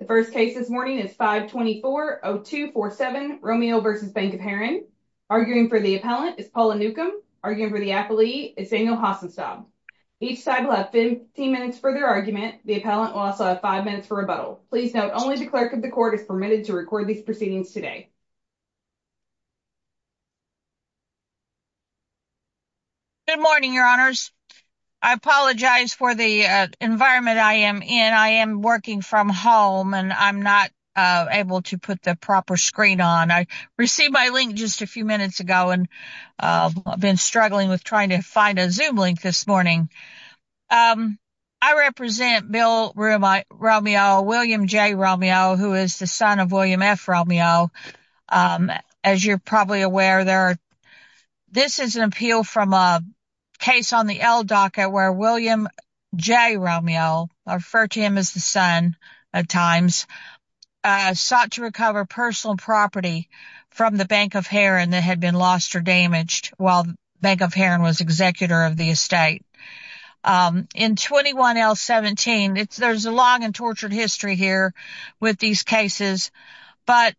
The first case this morning is 524-0247 Romeo v. Bank of Herrin. Arguing for the appellant is Paula Newcomb. Arguing for the appellee is Daniel Hassenstab. Each side will have 15 minutes for their argument. The appellant will also have five minutes for rebuttal. Please note only the clerk of the court is permitted to record these proceedings today. Good morning, your honors. I apologize for the environment I am in. I am working from home and I'm not able to put the proper screen on. I received my link just a few minutes ago and I've been struggling with trying to find a zoom link this morning. I represent Bill Romeo, William J. Romeo, who is the son of William F. Romeo. As you're probably aware, this is an appeal from a case on the L docket where William J. Romeo, I refer to him as the son at times, sought to recover personal property from the Bank of Herrin that had been lost or damaged while Bank of Herrin was executor of the estate. In 21L17, there's a long and tortured history here with these cases, but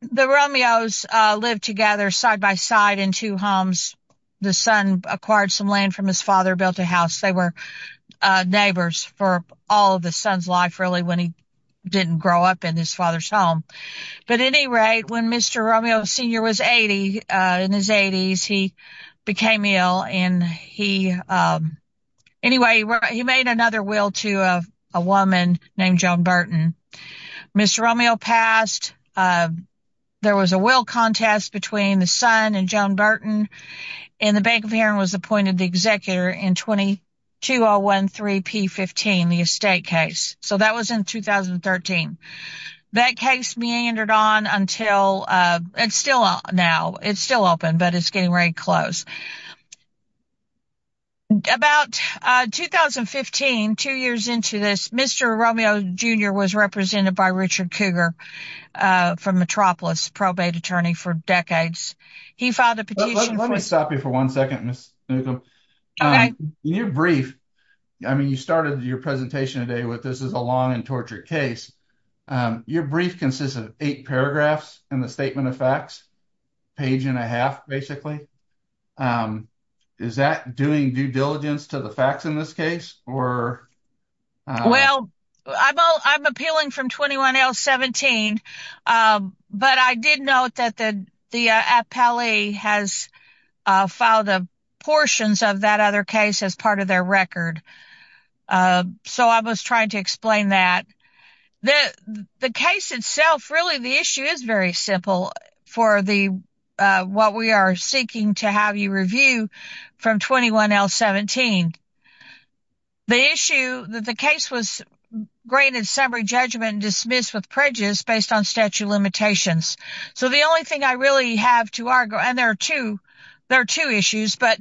the Romeos lived together side by side in two homes. The son acquired some land from his father, built a house. They were neighbors for all of the son's life really when he didn't grow up in his father's home. At any rate, when Mr. Romeo Sr. was 80, in his 80s, he became ill and he made another will to a woman named Joan Burton. Mr. Romeo passed. There was a will contest between the son and Joan Burton and the Bank of Herrin was appointed the executor in 22013P15, the estate case. So that was in 2013. That case meandered on until, it's still now, it's still open, but it's getting very close. About 2015, two years into this, Mr. Romeo Jr. was represented by Richard Cougar from Metropolis, probate attorney for decades. He filed a petition. Let me stop you for one second, Ms. Newcomb. In your brief, I mean, you started your presentation today with this is a long and tortured case. Your brief consists of eight paragraphs in the statement of facts, page and a half basically. Is that doing due diligence to the facts in this case? Well, I'm appealing from 21017, but I did note that the appellee has filed portions of that case as part of their record. So I was trying to explain that. The case itself, really the issue is very simple for what we are seeking to have you review from 21017. The issue that the case was granted summary judgment and dismissed with prejudice based on statute of limitations. So the only thing I really have to argue, and there are two, there are two issues, but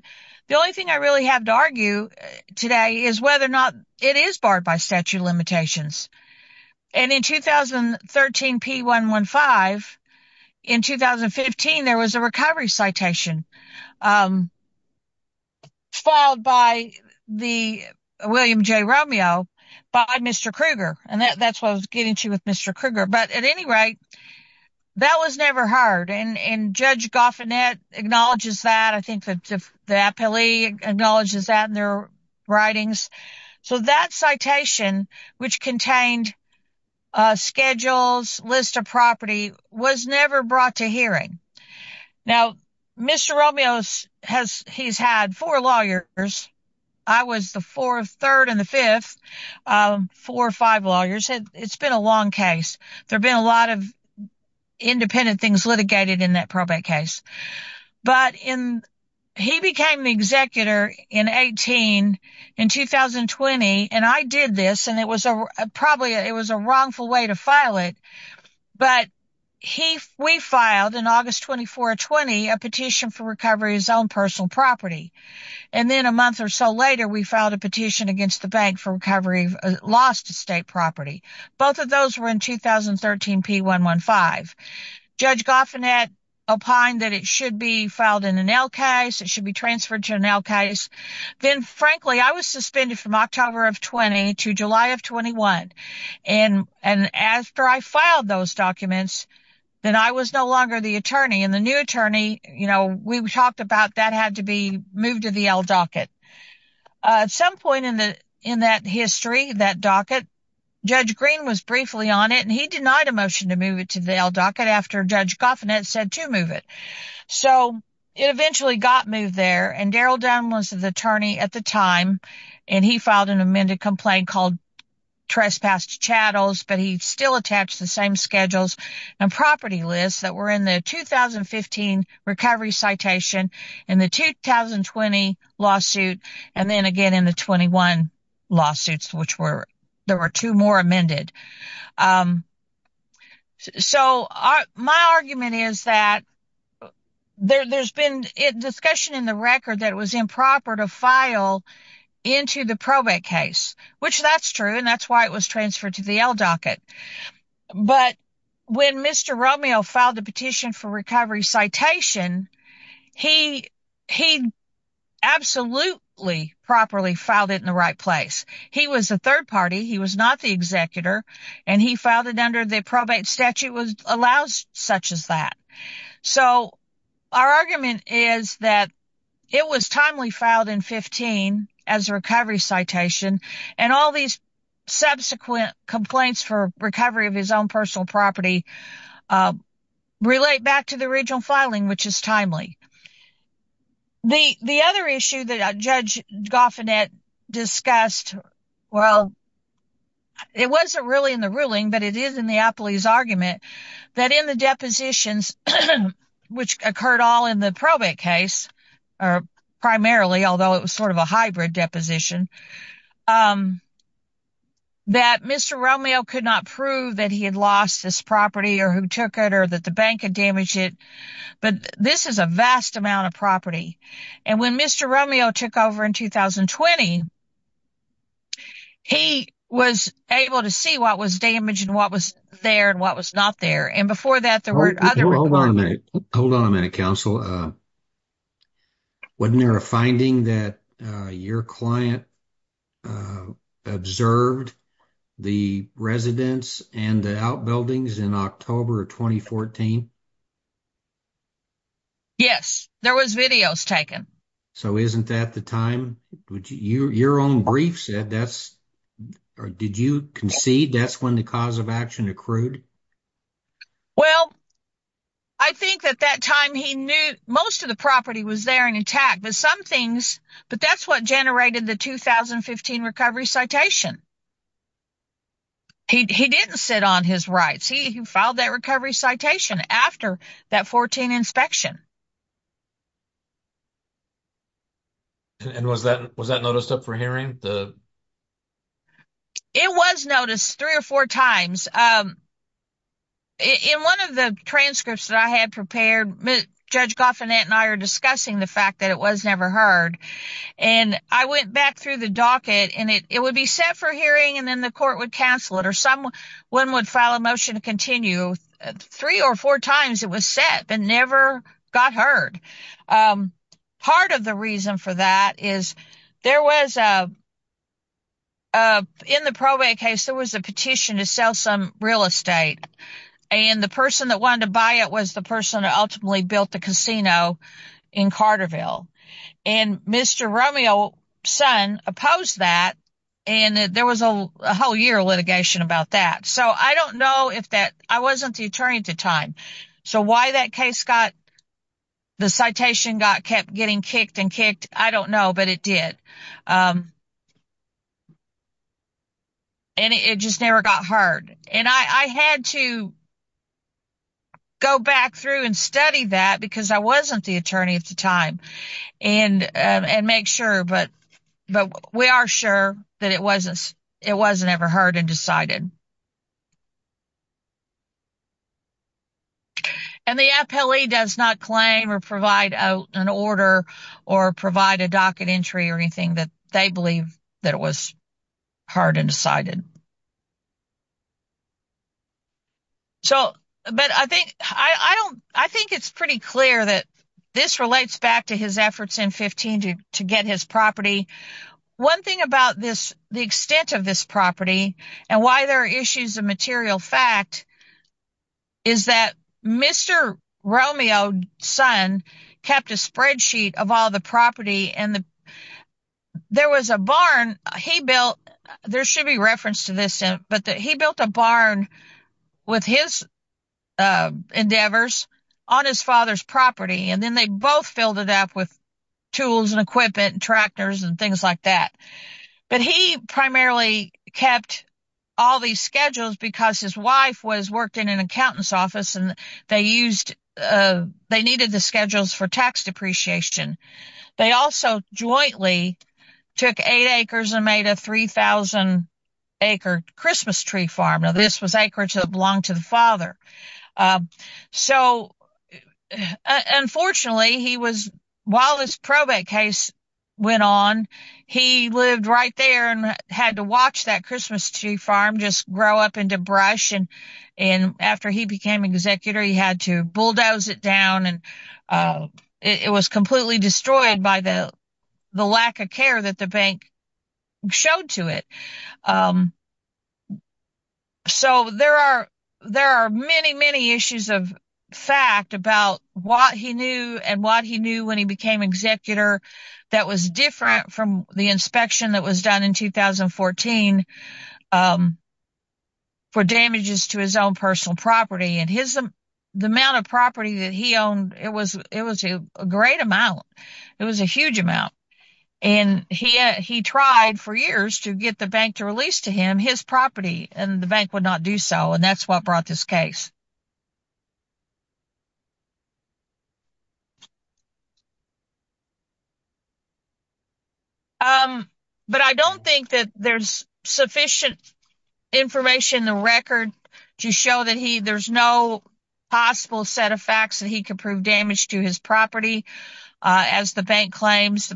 the only thing I really have to argue today is whether or not it is barred by statute of limitations. And in 2013, P115, in 2015, there was a recovery citation filed by the William J. Romeo by Mr. Cougar. And that's what I was getting to with Mr. Cougar. But at any rate, that was never heard. And Judge Goffinette acknowledges that. I think the appellee acknowledges that in their writings. So that citation, which contained schedules, list of property, was never brought to hearing. Now, Mr. Romeo, he's had four lawyers. I was the fourth, third, and the fifth, four or five lawyers. It's been a long case. There have been a lot of independent things litigated in that probate case. But he became the executor in 18, in 2020. And I did this, and it was probably, it was a wrongful way to file it. But we filed, in August 2420, a petition for recovery of his own personal property. And then a month or so later, we filed a petition against the bank for recovery lost state property. Both of those were in 2013 P115. Judge Goffinette opined that it should be filed in an L case. It should be transferred to an L case. Then, frankly, I was suspended from October of 20 to July of 21. And after I filed those documents, then I was no longer the attorney. And the new attorney, you know, we talked about that had to be moved to the L docket. At some point in that history, that docket, Judge Green was briefly on it, and he denied a motion to move it to the L docket after Judge Goffinette said to move it. So, it eventually got moved there. And Daryl Dunn was the attorney at the time, and he filed an amended complaint called trespassed chattels, but he still attached the same schedules and property lists that were in the 2015 recovery citation, in the 2020 lawsuit, and then again in the 21 lawsuits, which were, there were two more amended. So, my argument is that there's been a discussion in the record that it was improper to file into the probate case, which that's true, and that's why it was transferred to the L docket. But when Mr. Romeo filed the petition for recovery citation, he absolutely properly filed it in the right place. He was a third party, he was not the executor, and he filed it under the probate statute allows such as that. So, our argument is that it was timely filed in 15 as a recovery citation, and all these subsequent complaints for recovery of his own personal property relate back to the regional filing, which is timely. The other issue that Judge Goffinette discussed, well, it wasn't really in the ruling, but it is in the appellee's argument, that in the depositions, which occurred all in the probate case, or primarily, although it was sort of a hybrid deposition, that Mr. Romeo could not prove that he had lost this property, or who took it, or that the bank had damaged it, but this is a vast amount of property. And when Mr. Romeo took over in 2020, he was able to see what was damaged, and what was there, and what was not there. And before that, there were other... Hold on a minute, hold on a minute, counsel. Wasn't there a finding that your client observed the residence and the outbuildings in October of 2014? Yes, there was videos taken. So, isn't that the time? Your own brief said that's... Did you concede that's when the cause of action accrued? Well, I think at that time, he knew most of the property was there and intact, but some things... But that's what generated the 2015 recovery citation. He didn't sit on his rights. He filed that recovery citation after that 14 inspection. And was that noticed up for hearing? It was noticed three or four times. In one of the transcripts that I had prepared, Judge Goffin and I are discussing the fact that it was never heard. And I went back through the docket, and it would be set for hearing, and then the court would cancel it, or someone would file a motion to continue. Three or four times it was set, but never got heard. Part of the reason for that is there was... In the probate case, there was a petition to sell some real estate. And the person that wanted to buy it was the person ultimately built the casino in Carterville. And Mr. Romeo's son opposed that, and there was a whole year of litigation about that. So I don't know if that... I wasn't the attorney at the time. So why that case got... The citation got kept getting kicked and kicked, I don't know, but it did. And it just never got heard. And I had to go back through and study that, because I wasn't the attorney at the time, and make sure. But we are sure that it wasn't ever heard and decided. And the appellee does not claim or provide out an order, or provide a docket entry or anything that they believe that it was hard and decided. So, but I think it's pretty clear that this relates back to his efforts in 15 to get his property. One thing about this, the extent of this property, and why there are issues of material fact, is that Mr. Romeo's son kept a spreadsheet of all the property. And there was a barn he built, there should be reference to this, but he built a barn with his endeavors on his father's property. And then they both filled it up with tools and tractors and things like that. But he primarily kept all these schedules because his wife was worked in an accountant's office, and they needed the schedules for tax depreciation. They also jointly took eight acres and made a 3,000 acre Christmas tree farm. Now, this was to the father. So, unfortunately, while this probate case went on, he lived right there and had to watch that Christmas tree farm just grow up into brush. And after he became executor, he had to bulldoze it down. And it was completely destroyed by the lack of care that the bank showed to it. So, there are many, many issues of fact about what he knew and what he knew when he became executor that was different from the inspection that was done in 2014 for damages to his own personal property. And the amount of property that he owned, it was a great amount. It was a huge amount. And he tried for years to get the bank to release to him his property, and the bank would not do so. And that's what brought this case. But I don't think that there's sufficient information in the record to show that there's no possible set of facts that he could prove damage to his property. As the bank claims,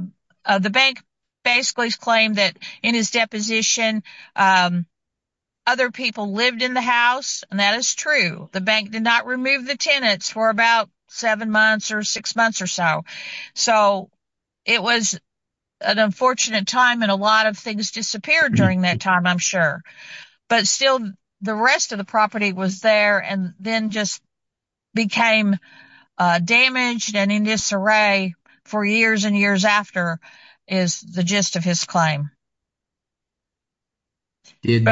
the bank basically claimed that in his deposition, other people lived in the house. And that is true. The bank did not remove the tenants for about seven months or six months or so. So, it was an unfortunate time and a lot of things disappeared during that time, I'm sure. But still, the rest of the property was there and then just became damaged and in disarray for years and years after is the gist of his claim. Did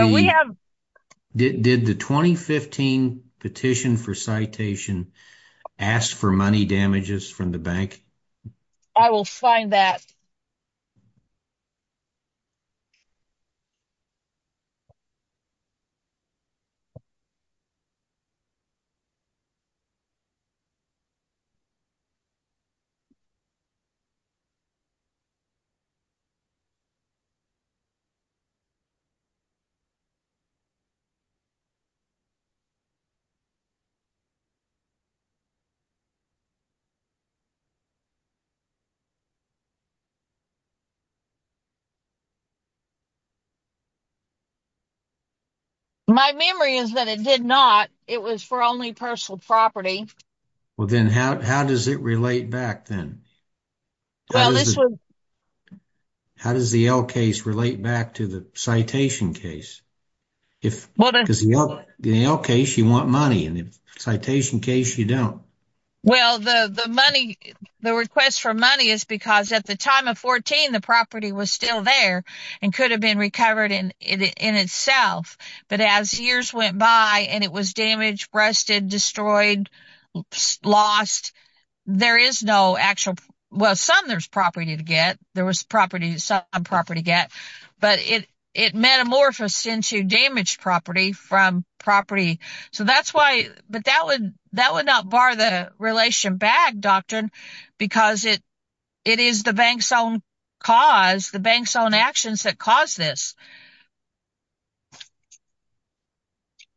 the 2015 petition for citation ask for money damages from the bank? I will find that. My memory is that it did not. It was for only personal property. Well, then how does it relate back then? How does the L case relate back to the citation case? The L case, you want money, and the citation case, you don't. Well, the request for money is because at the time of 2014, the property was still there and could have been recovered in itself. But as years went by, and it was damaged, rusted, destroyed, lost, there is no actual... Well, some there's property to get. There was property, some property to get. But it metamorphosed into damaged property from property. So that's why... But that would not bar the relation back, doctor, because it is the bank's own cause, the bank's own actions that caused this.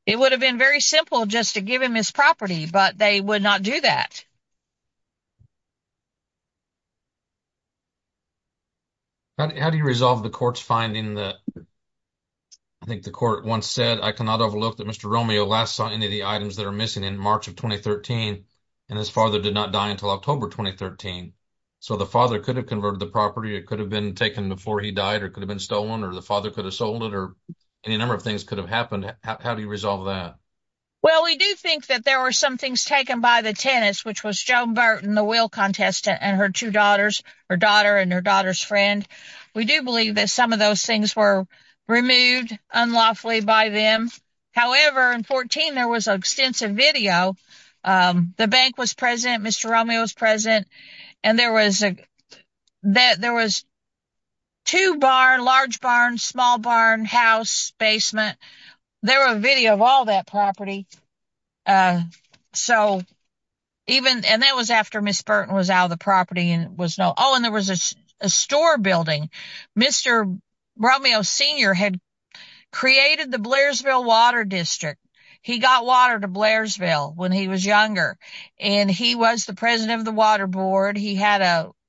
It would have been very simple just to give him his property, but they would not do that. How do you resolve the court's finding that... I think the court once said, I cannot overlook that Mr. Romeo last saw any of the items that are missing in March of 2013, and his father did not die until October 2013. So the father could have converted the property, it could have been taken before he died, or it could have been stolen, or the father could have sold it, or any number of things could have happened. How do you resolve that? Well, we do think that there were some things taken by the tenants, which was Joan Burton, the wheel contestant, and her two daughters, her daughter and her daughter's friend. We do believe that some of those things were removed unlawfully by them. However, in 14, there was an extensive video. The bank was present, Mr. Romeo was present, and there was two barn, large barn, small barn, house, basement. There were video of all that property. And that was after Ms. Burton was out of the property. Oh, and there was a store building. Mr. Romeo Sr. had created the Blairsville Water District. He got water to Blairsville when he was younger, and he was the president of the water board. He had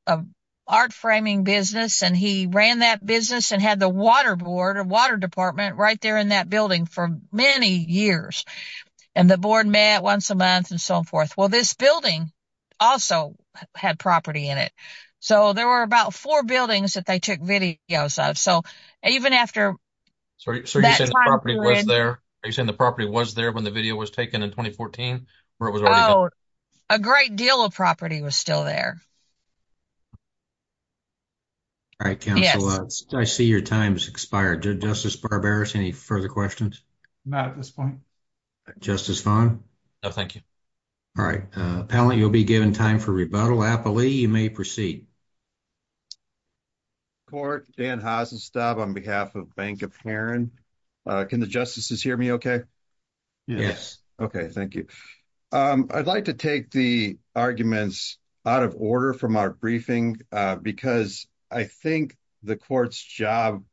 an art framing business, and he ran that business and had the water board, a water department, right there in that building for many years. And the board met once a month and so forth. Well, this building also had property in it. So, there were about four buildings that they took videos of. So, even after that time period... So, you're saying the property was there when the video was taken in 2014? A great deal of property was still there. All right, counsel. I see your time has expired. Justice Barberis, any further questions? Not at this point. Justice Farn? No, thank you. All right, appellant, you'll be given time for rebuttal. Applee, you may proceed. Court, Dan Hasenstab on behalf of Bank of Heron. Can the justices hear me okay? Yes. Okay, thank you. I'd like to take the arguments out of order from our briefing, because I think the court's job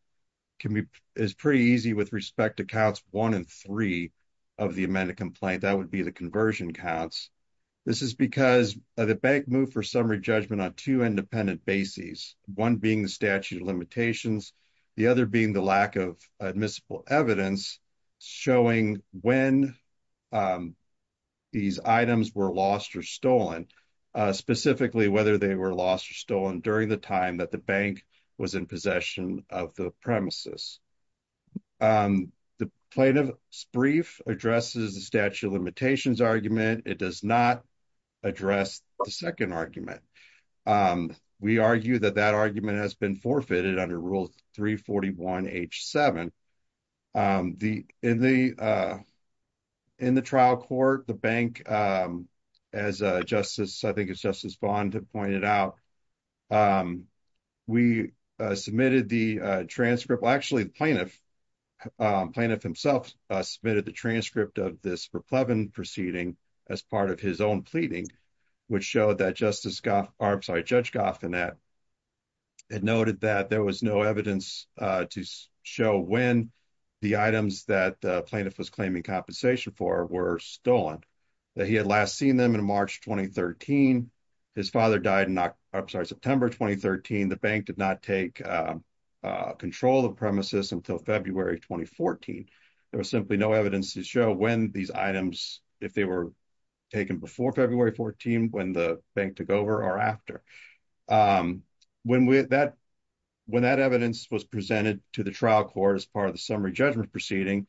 is pretty easy with respect to counts one and three of the amended complaint. That would be the conversion counts. This is because the bank moved for summary judgment on two independent bases, one being the statute of limitations, the other being the lack of admissible evidence showing when these items were lost or stolen, specifically whether they were lost or stolen during the time that the bank was in possession of the premises. The plaintiff's brief addresses the statute of limitations argument. It does not address the second argument. We argue that that argument has been forfeited under Rule 341 H7. In the trial court, the bank, as I think it's Justice Bond who pointed out, we submitted the transcript. Well, actually, the plaintiff himself submitted the transcript of this for Plevin proceeding as part of his own pleading, which showed that Judge Goffin had noted that there was no evidence to show when the items that the plaintiff was claiming compensation for were stolen. He had last seen them in March 2013. His father died in September 2013. The bank did not take control of the premises until February 2014. There was simply no evidence to show when these items, if they were taken before February 14, when the bank took over or after. When that evidence was presented to the trial court as part of the summary judgment proceeding,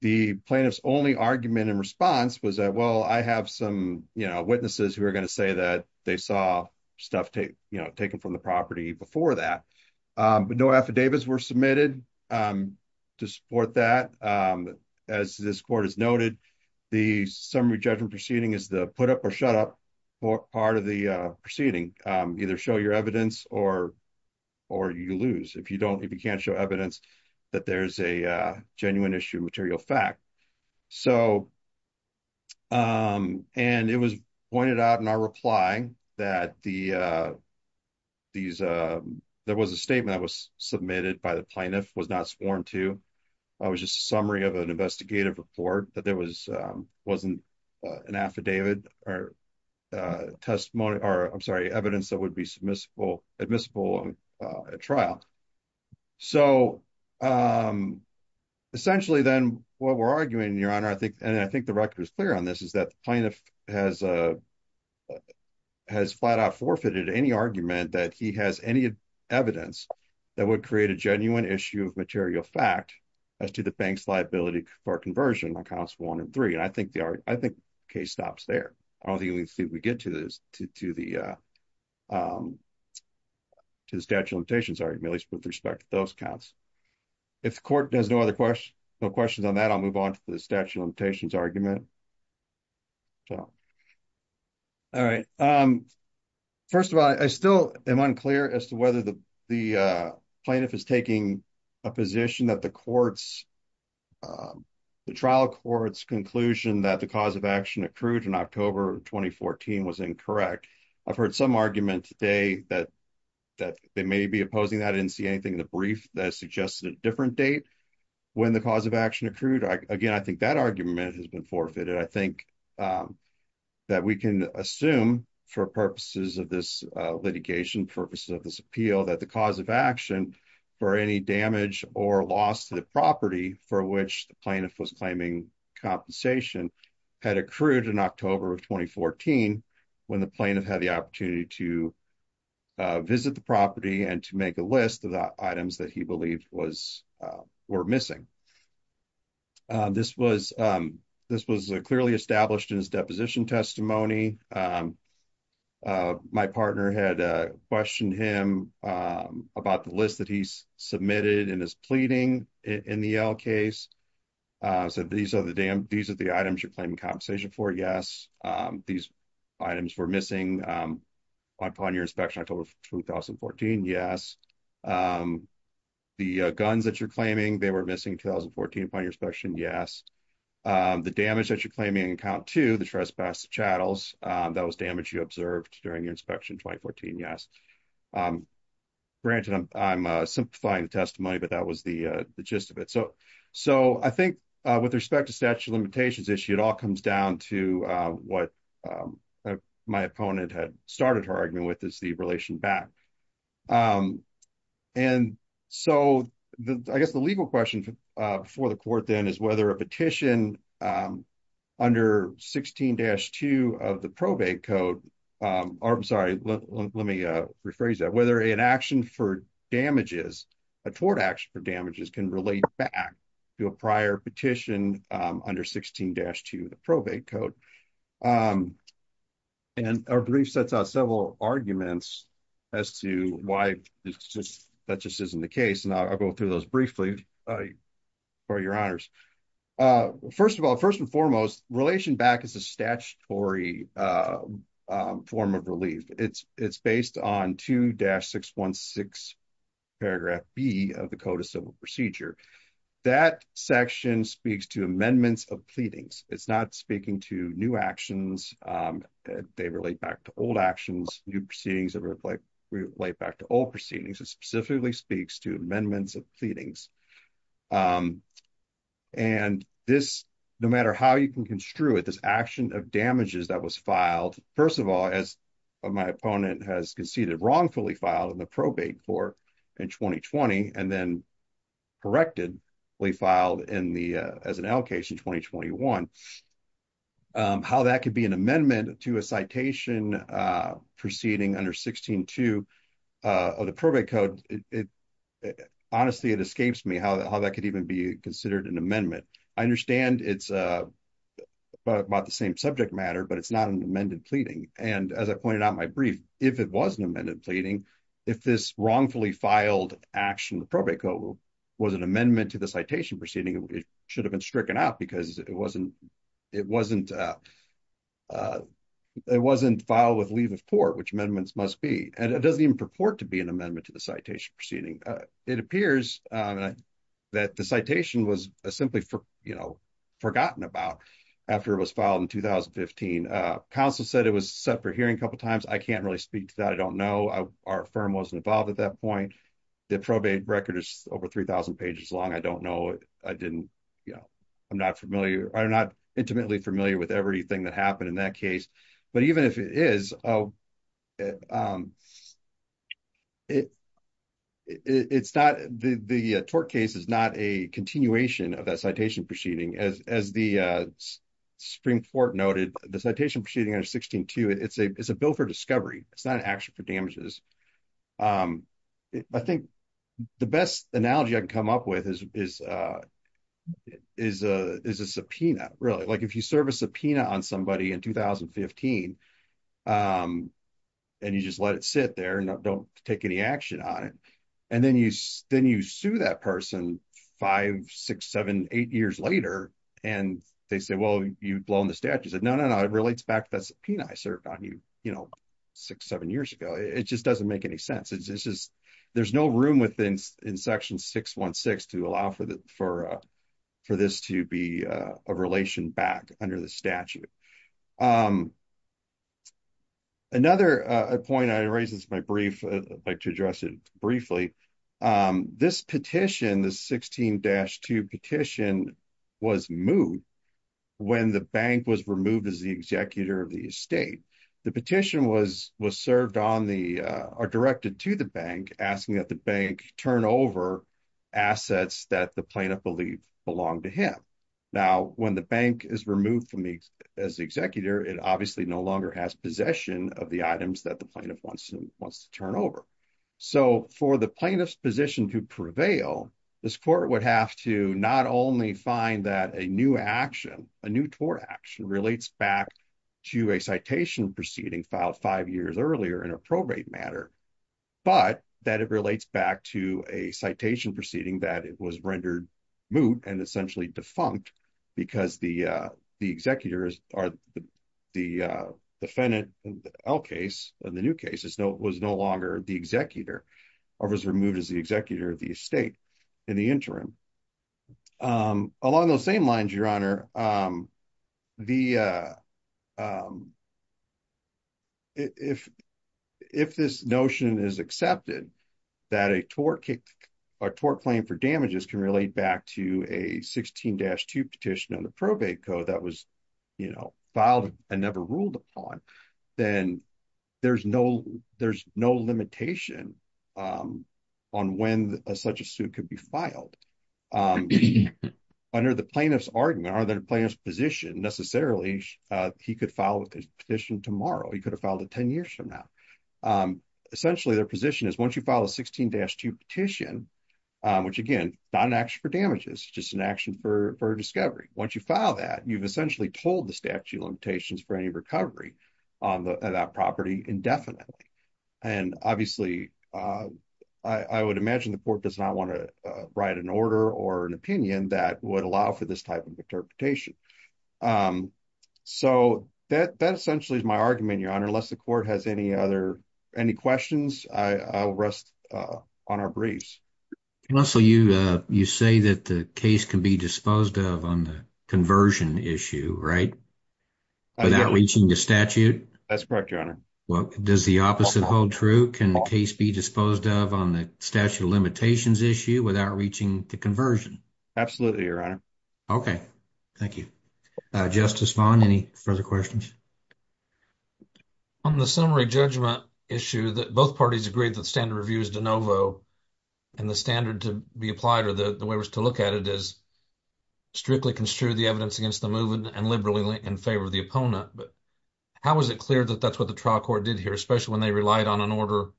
the plaintiff's only argument in response was that, well, I have some witnesses who are going to say that they saw stuff taken from the property before that. No affidavits were submitted to support that. As this court has noted, the summary judgment proceeding is the shut up part of the proceeding. Either show your evidence or you lose. If you can't show evidence that there's a genuine issue of material fact. It was pointed out in our reply that there was a statement that was submitted by the plaintiff, was not sworn to. It was just a summary of an affidavit or evidence that would be admissible at trial. Essentially, then, what we're arguing, Your Honor, and I think the record is clear on this, is that the plaintiff has flat out forfeited any argument that he has any evidence that would create a genuine issue of material fact as to the bank's liability for conversion on counts one and three. I think the case stops there. I don't think we get to the statute of limitations argument, at least with respect to those counts. If the court has no other questions on that, I'll move on to the statute of limitations argument. First of all, I still am unclear as to whether the plaintiff is taking a position that the trial court's conclusion that the cause of action accrued in October 2014 was incorrect. I've heard some argument today that they may be opposing that. I didn't see anything in the brief that suggested a different date when the cause of action accrued. Again, I think that argument has been forfeited. I think that we can assume for purposes of this litigation, purposes of this appeal, that the cause of action for any damage or loss to the property for which the plaintiff was claiming compensation had accrued in October of 2014, when the plaintiff had the opportunity to visit the property and to make a list of the items that he believed were missing. This was clearly established in his deposition testimony. My partner had questioned him about the list that he's submitted in his pleading in the Yale case. He said, these are the items you're claiming compensation for, yes. These items were missing upon your inspection in October of 2014, yes. The guns that you're claiming, they were missing in 2014 upon your inspection, yes. The damage that you're claiming in account two, the trespass chattels, that was damage you observed during your inspection in 2014, yes. Granted, I'm simplifying the testimony, but that was the gist of it. I think with respect to statute of limitations issue, it all comes down to what my opponent had started her argument with, is the relation back. I guess the legal question for the court then is whether a petition under 16-2 of the probate code, I'm sorry, let me rephrase that, whether an action for damages, a tort action for damages can relate back to a prior petition under 16-2 of the probate code. Our brief sets out several arguments as to why that just isn't the case. I'll go through those briefly for your honors. First of all, first and foremost, relation back is a statutory form of relief. It's based on 2-616 paragraph B of the code of civil procedure. That section speaks to amendments of pleadings. It's not speaking to new actions. They relate back to old actions, new proceedings that relate back to old proceedings. It specifically speaks to amendments of pleadings. No matter how you can construe it, this action of damages that was filed, first of all, as my opponent has conceded wrongfully filed in the probate court in 2020, and then corrected, we filed as an L case in 2021. How that could be an amendment to a citation proceeding under 16-2 of the probate code, honestly, it escapes me how that could even be considered an amendment. I understand it's about the same subject matter, but it's not an amended pleading. As I pointed out in my brief, if it was an amended pleading, if this wrongfully filed action of the probate code was an amendment to the citation proceeding, it should have been stricken out because it wasn't filed with leave of court, which amendments must be. It doesn't even purport to be an amendment to the citation proceeding. It appears that the citation was simply forgotten about after it was filed in 2015. Counsel said it was set for hearing a couple of times. I can't really speak to that. I don't know. Our firm wasn't involved at that point. The probate record is over 3,000 pages long. I don't know. I'm not intimately familiar with everything that happened in that case. But even if it is, the tort case is not a continuation of that citation proceeding. As the Supreme Court noted, the citation proceeding under 16-2, it's a bill for discovery. It's not an action for damages. I think the best analogy I can come up with is a subpoena. If you serve a subpoena on somebody in 2015 and you just let it sit there and don't take any action on it, and then you sue that person five, six, seven, eight years later, and they say, well, you've blown the statute. You say, no, no, no, it relates back to that subpoena I served on you six, seven years ago. It just doesn't make any sense. There's no room in section 616 to allow for this to be a relation back under the statute. Another point I'd like to address briefly, this petition, the 16-2 petition was moved when the bank was removed as the executor of the estate. The petition was directed to the bank, asking that the bank turn over assets that the plaintiff believed belonged to him. Now, the bank is removed as the executor, it obviously no longer has possession of the items that the plaintiff wants to turn over. For the plaintiff's position to prevail, this court would have to not only find that a new action, a new tort action relates back to a citation proceeding filed five years earlier in a probate matter, but that it relates back to a citation proceeding that it was rendered moot and essentially defunct because the executor or the defendant in the L case, in the new case, was no longer the executor or was removed as the executor of the estate in the interim. Along those same lines, Your Honor, if this notion is accepted, that a tort claim for damages can relate back to a 16-2 petition on the probate code that was filed and never ruled upon, then there's no limitation on when such a suit could be filed. Under the plaintiff's argument or the plaintiff's position, necessarily, he could file a petition tomorrow. He could have filed it 10 years from now. Essentially, their position is once you file a 16-2 petition, which again, not an action for damages, just an action for discovery. Once you file that, you've essentially told the statute limitations for any recovery on that property indefinitely. Obviously, I would imagine the court does not want to write an order or an opinion that would allow for this type of any questions. I'll rest on our briefs. And also, you say that the case can be disposed of on the conversion issue, right, without reaching the statute? That's correct, Your Honor. Well, does the opposite hold true? Can the case be disposed of on the statute of limitations issue without reaching the conversion? Absolutely, Your Honor. Okay. Thank you. Justice Vaughn, any further questions? On the summary judgment issue, both parties agreed that the standard review is de novo, and the standard to be applied or the way it was to look at it is strictly construe the evidence against the move and liberally in favor of the opponent. But how is it clear that that's what the trial court did here, especially when they relied on an order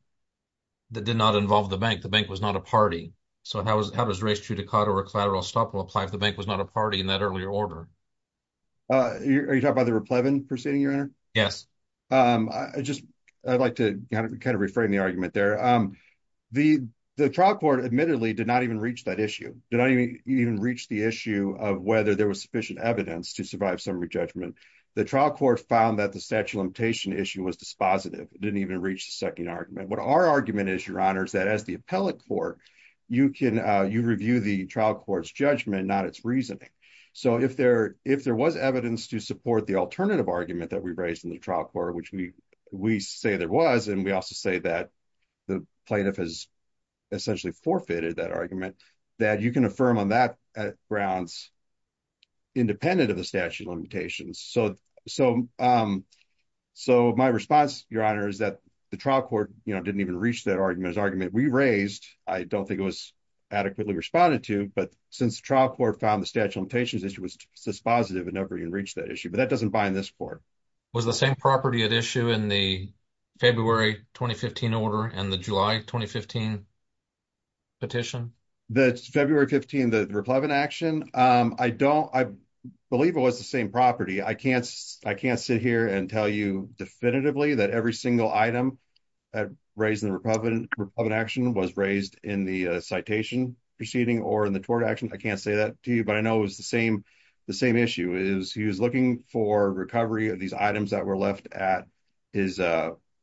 that did not involve the bank? The bank was not a party. So how does res judicata or collateral estoppel apply if the bank was not a party in that earlier order? Are you talking about the raplevin proceeding, Your Honor? I'd like to kind of reframe the argument there. The trial court admittedly did not even reach that issue, did not even reach the issue of whether there was sufficient evidence to survive summary judgment. The trial court found that the statute of limitation issue was dispositive, didn't even reach the second argument. What our argument is, Your Honor, is that as the appellate you review the trial court's judgment, not its reasoning. So if there was evidence to support the alternative argument that we raised in the trial court, which we say there was, and we also say that the plaintiff has essentially forfeited that argument, that you can affirm on that grounds independent of the statute of limitations. So my response, Your Honor, is that the trial court didn't even reach that argument. The argument we raised, I don't think it was adequately responded to, but since the trial court found the statute of limitations issue was dispositive, it never even reached that issue. But that doesn't bind this court. Was the same property at issue in the February 2015 order and the July 2015 petition? The February 15, the raplevin action, I don't, I believe it was the same property. I can't sit here and tell you definitively that every single item that raised in the republican action was raised in the citation proceeding or in the tort action. I can't say that to you, but I know it was the same. The same issue is he was looking for recovery of these items that were left at his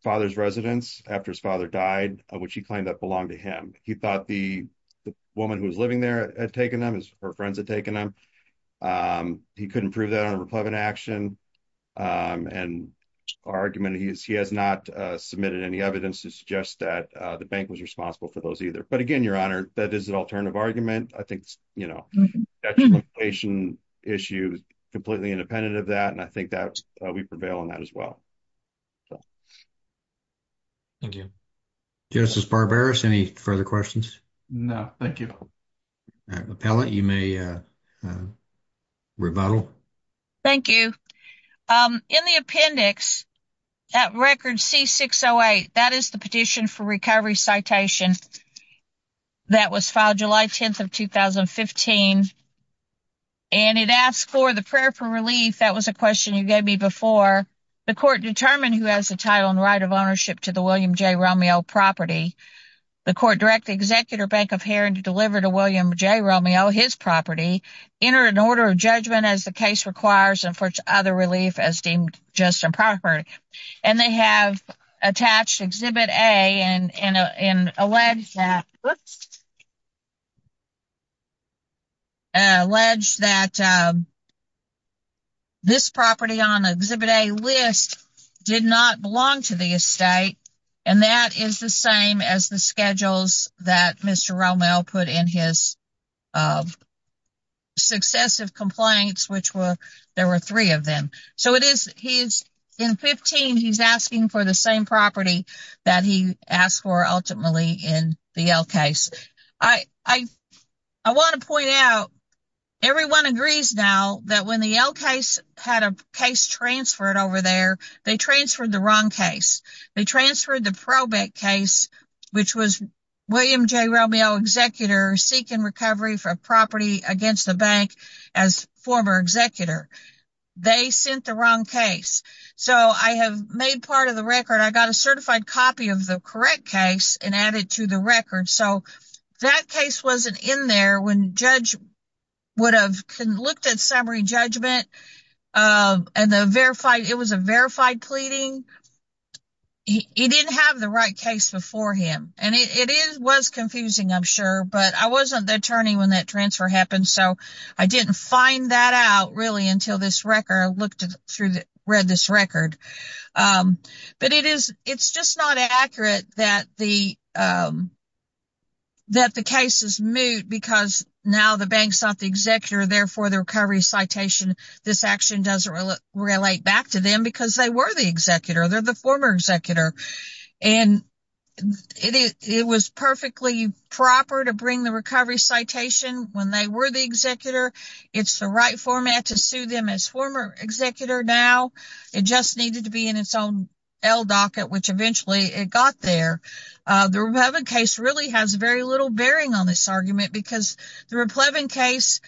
father's residence after his father died, which he claimed that belonged to him. He thought the woman who was living there had taken them, her friends had taken them. He couldn't prove that on a republican action. And our argument, he has not submitted any evidence to suggest that the bank was responsible for those either. But again, your honor, that is an alternative argument. I think, you know, that's a limitation issue completely independent of that. And I think that we prevail on that as well. Thank you. Justice Barberis, any further questions? No, thank you. Appellate, you may uh rebuttal. Thank you. In the appendix at record C-608, that is the petition for recovery citation that was filed July 10th of 2015. And it asks for the prayer for relief. That was a question you gave me before. The court determined who has the title and right of ownership to the William J. Romeo property. The court direct the executor bank of Heron to deliver to William J. Romeo his property, enter an order of judgment as the case requires, and for other relief as deemed just and proper. And they have attached Exhibit A and alleged that alleged that this property on Exhibit A list did not belong to the estate. And that is the same as schedules that Mr. Romeo put in his successive complaints, which were there were three of them. So it is he's in 15 he's asking for the same property that he asked for ultimately in the L case. I want to point out everyone agrees now that when the L case had a case transferred over they transferred the wrong case. They transferred the probate case which was William J. Romeo executor seeking recovery for a property against the bank as former executor. They sent the wrong case. So I have made part of the record. I got a certified copy of the correct case and added to the record. So that case wasn't in there when judge would have looked at summary judgment and the verified it was a verified pleading. He didn't have the right case before him and it is was confusing I'm sure but I wasn't the attorney when that transfer happened so I didn't find that out really until this record looked through the read this record. But it is it's just not accurate that the that the case is moot because now the bank's not the executor therefore the recovery citation this action doesn't relate back to them because they were the executor. They're the former executor and it was perfectly proper to bring the recovery citation when they were the executor. It's the right format to sue them as former executor now it just needed to be in its own L docket which eventually it got there. The Replevin case really has very little bearing on this argument because the Replevin case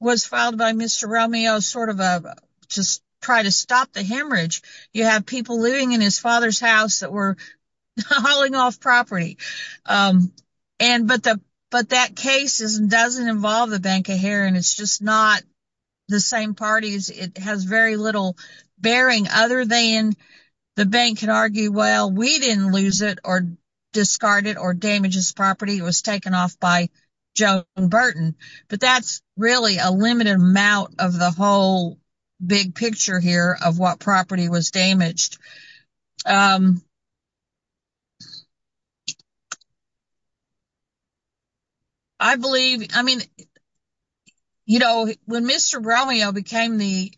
was filed by Mr. Romeo sort of a just try to stop the hemorrhage. You have people living in his father's house that were hauling off property and but the but that case is doesn't involve the bank of here and it's just not the same parties. It has very little bearing other than the bank can argue well we didn't lose it or discard it or damage property was taken off by Joan Burton but that's really a limited amount of the whole big picture here of what property was damaged. I believe I mean you know when Mr. Romeo became the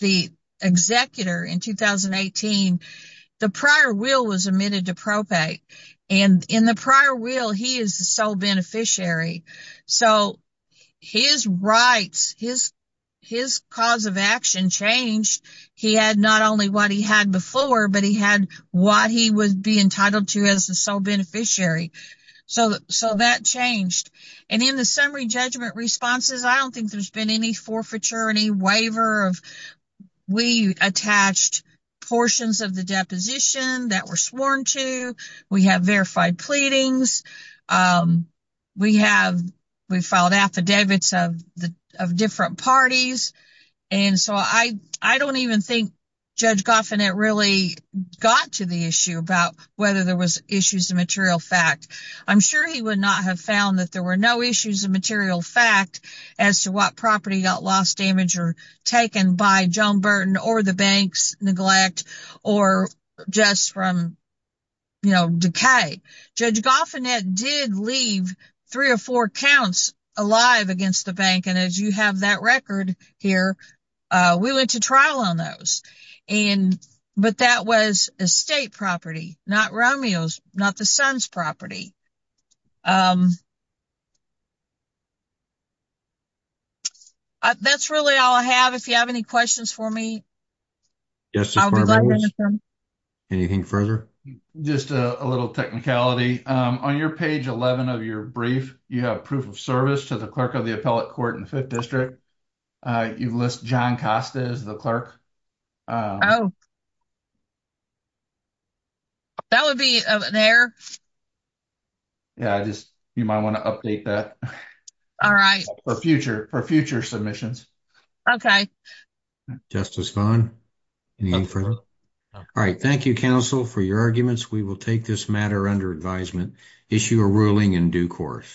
the executor in 2018 the prior will was and in the prior will he is the sole beneficiary so his rights his cause of action changed. He had not only what he had before but he had what he would be entitled to as the sole beneficiary so that changed and in the summary judgment responses I don't think there's been any waiver of we attached portions of the deposition that were sworn to we have verified pleadings we have we've filed affidavits of the of different parties and so I don't even think Judge Goffin it really got to the issue about whether there was issues of material fact. I'm sure he would not have found that there were no issues of material fact as to what property got lost damage or taken by Joan Burton or the bank's neglect or just from you know decay. Judge Goffin did leave three or four counts alive against the bank and as you have that record here we went to trial on those and but that was estate property not Romeo's not the son's property. That's really all I have if you have any questions for me. Anything further? Just a little technicality on your page 11 of your brief you have proof of service to the clerk of the appellate court in fifth district you list John Costa as the clerk. Oh that would be there yeah I just you might want to update that all right for future for future submissions. Okay Justice Vaughn. All right thank you counsel for your arguments we will take this matter under advisement issue a ruling in due course.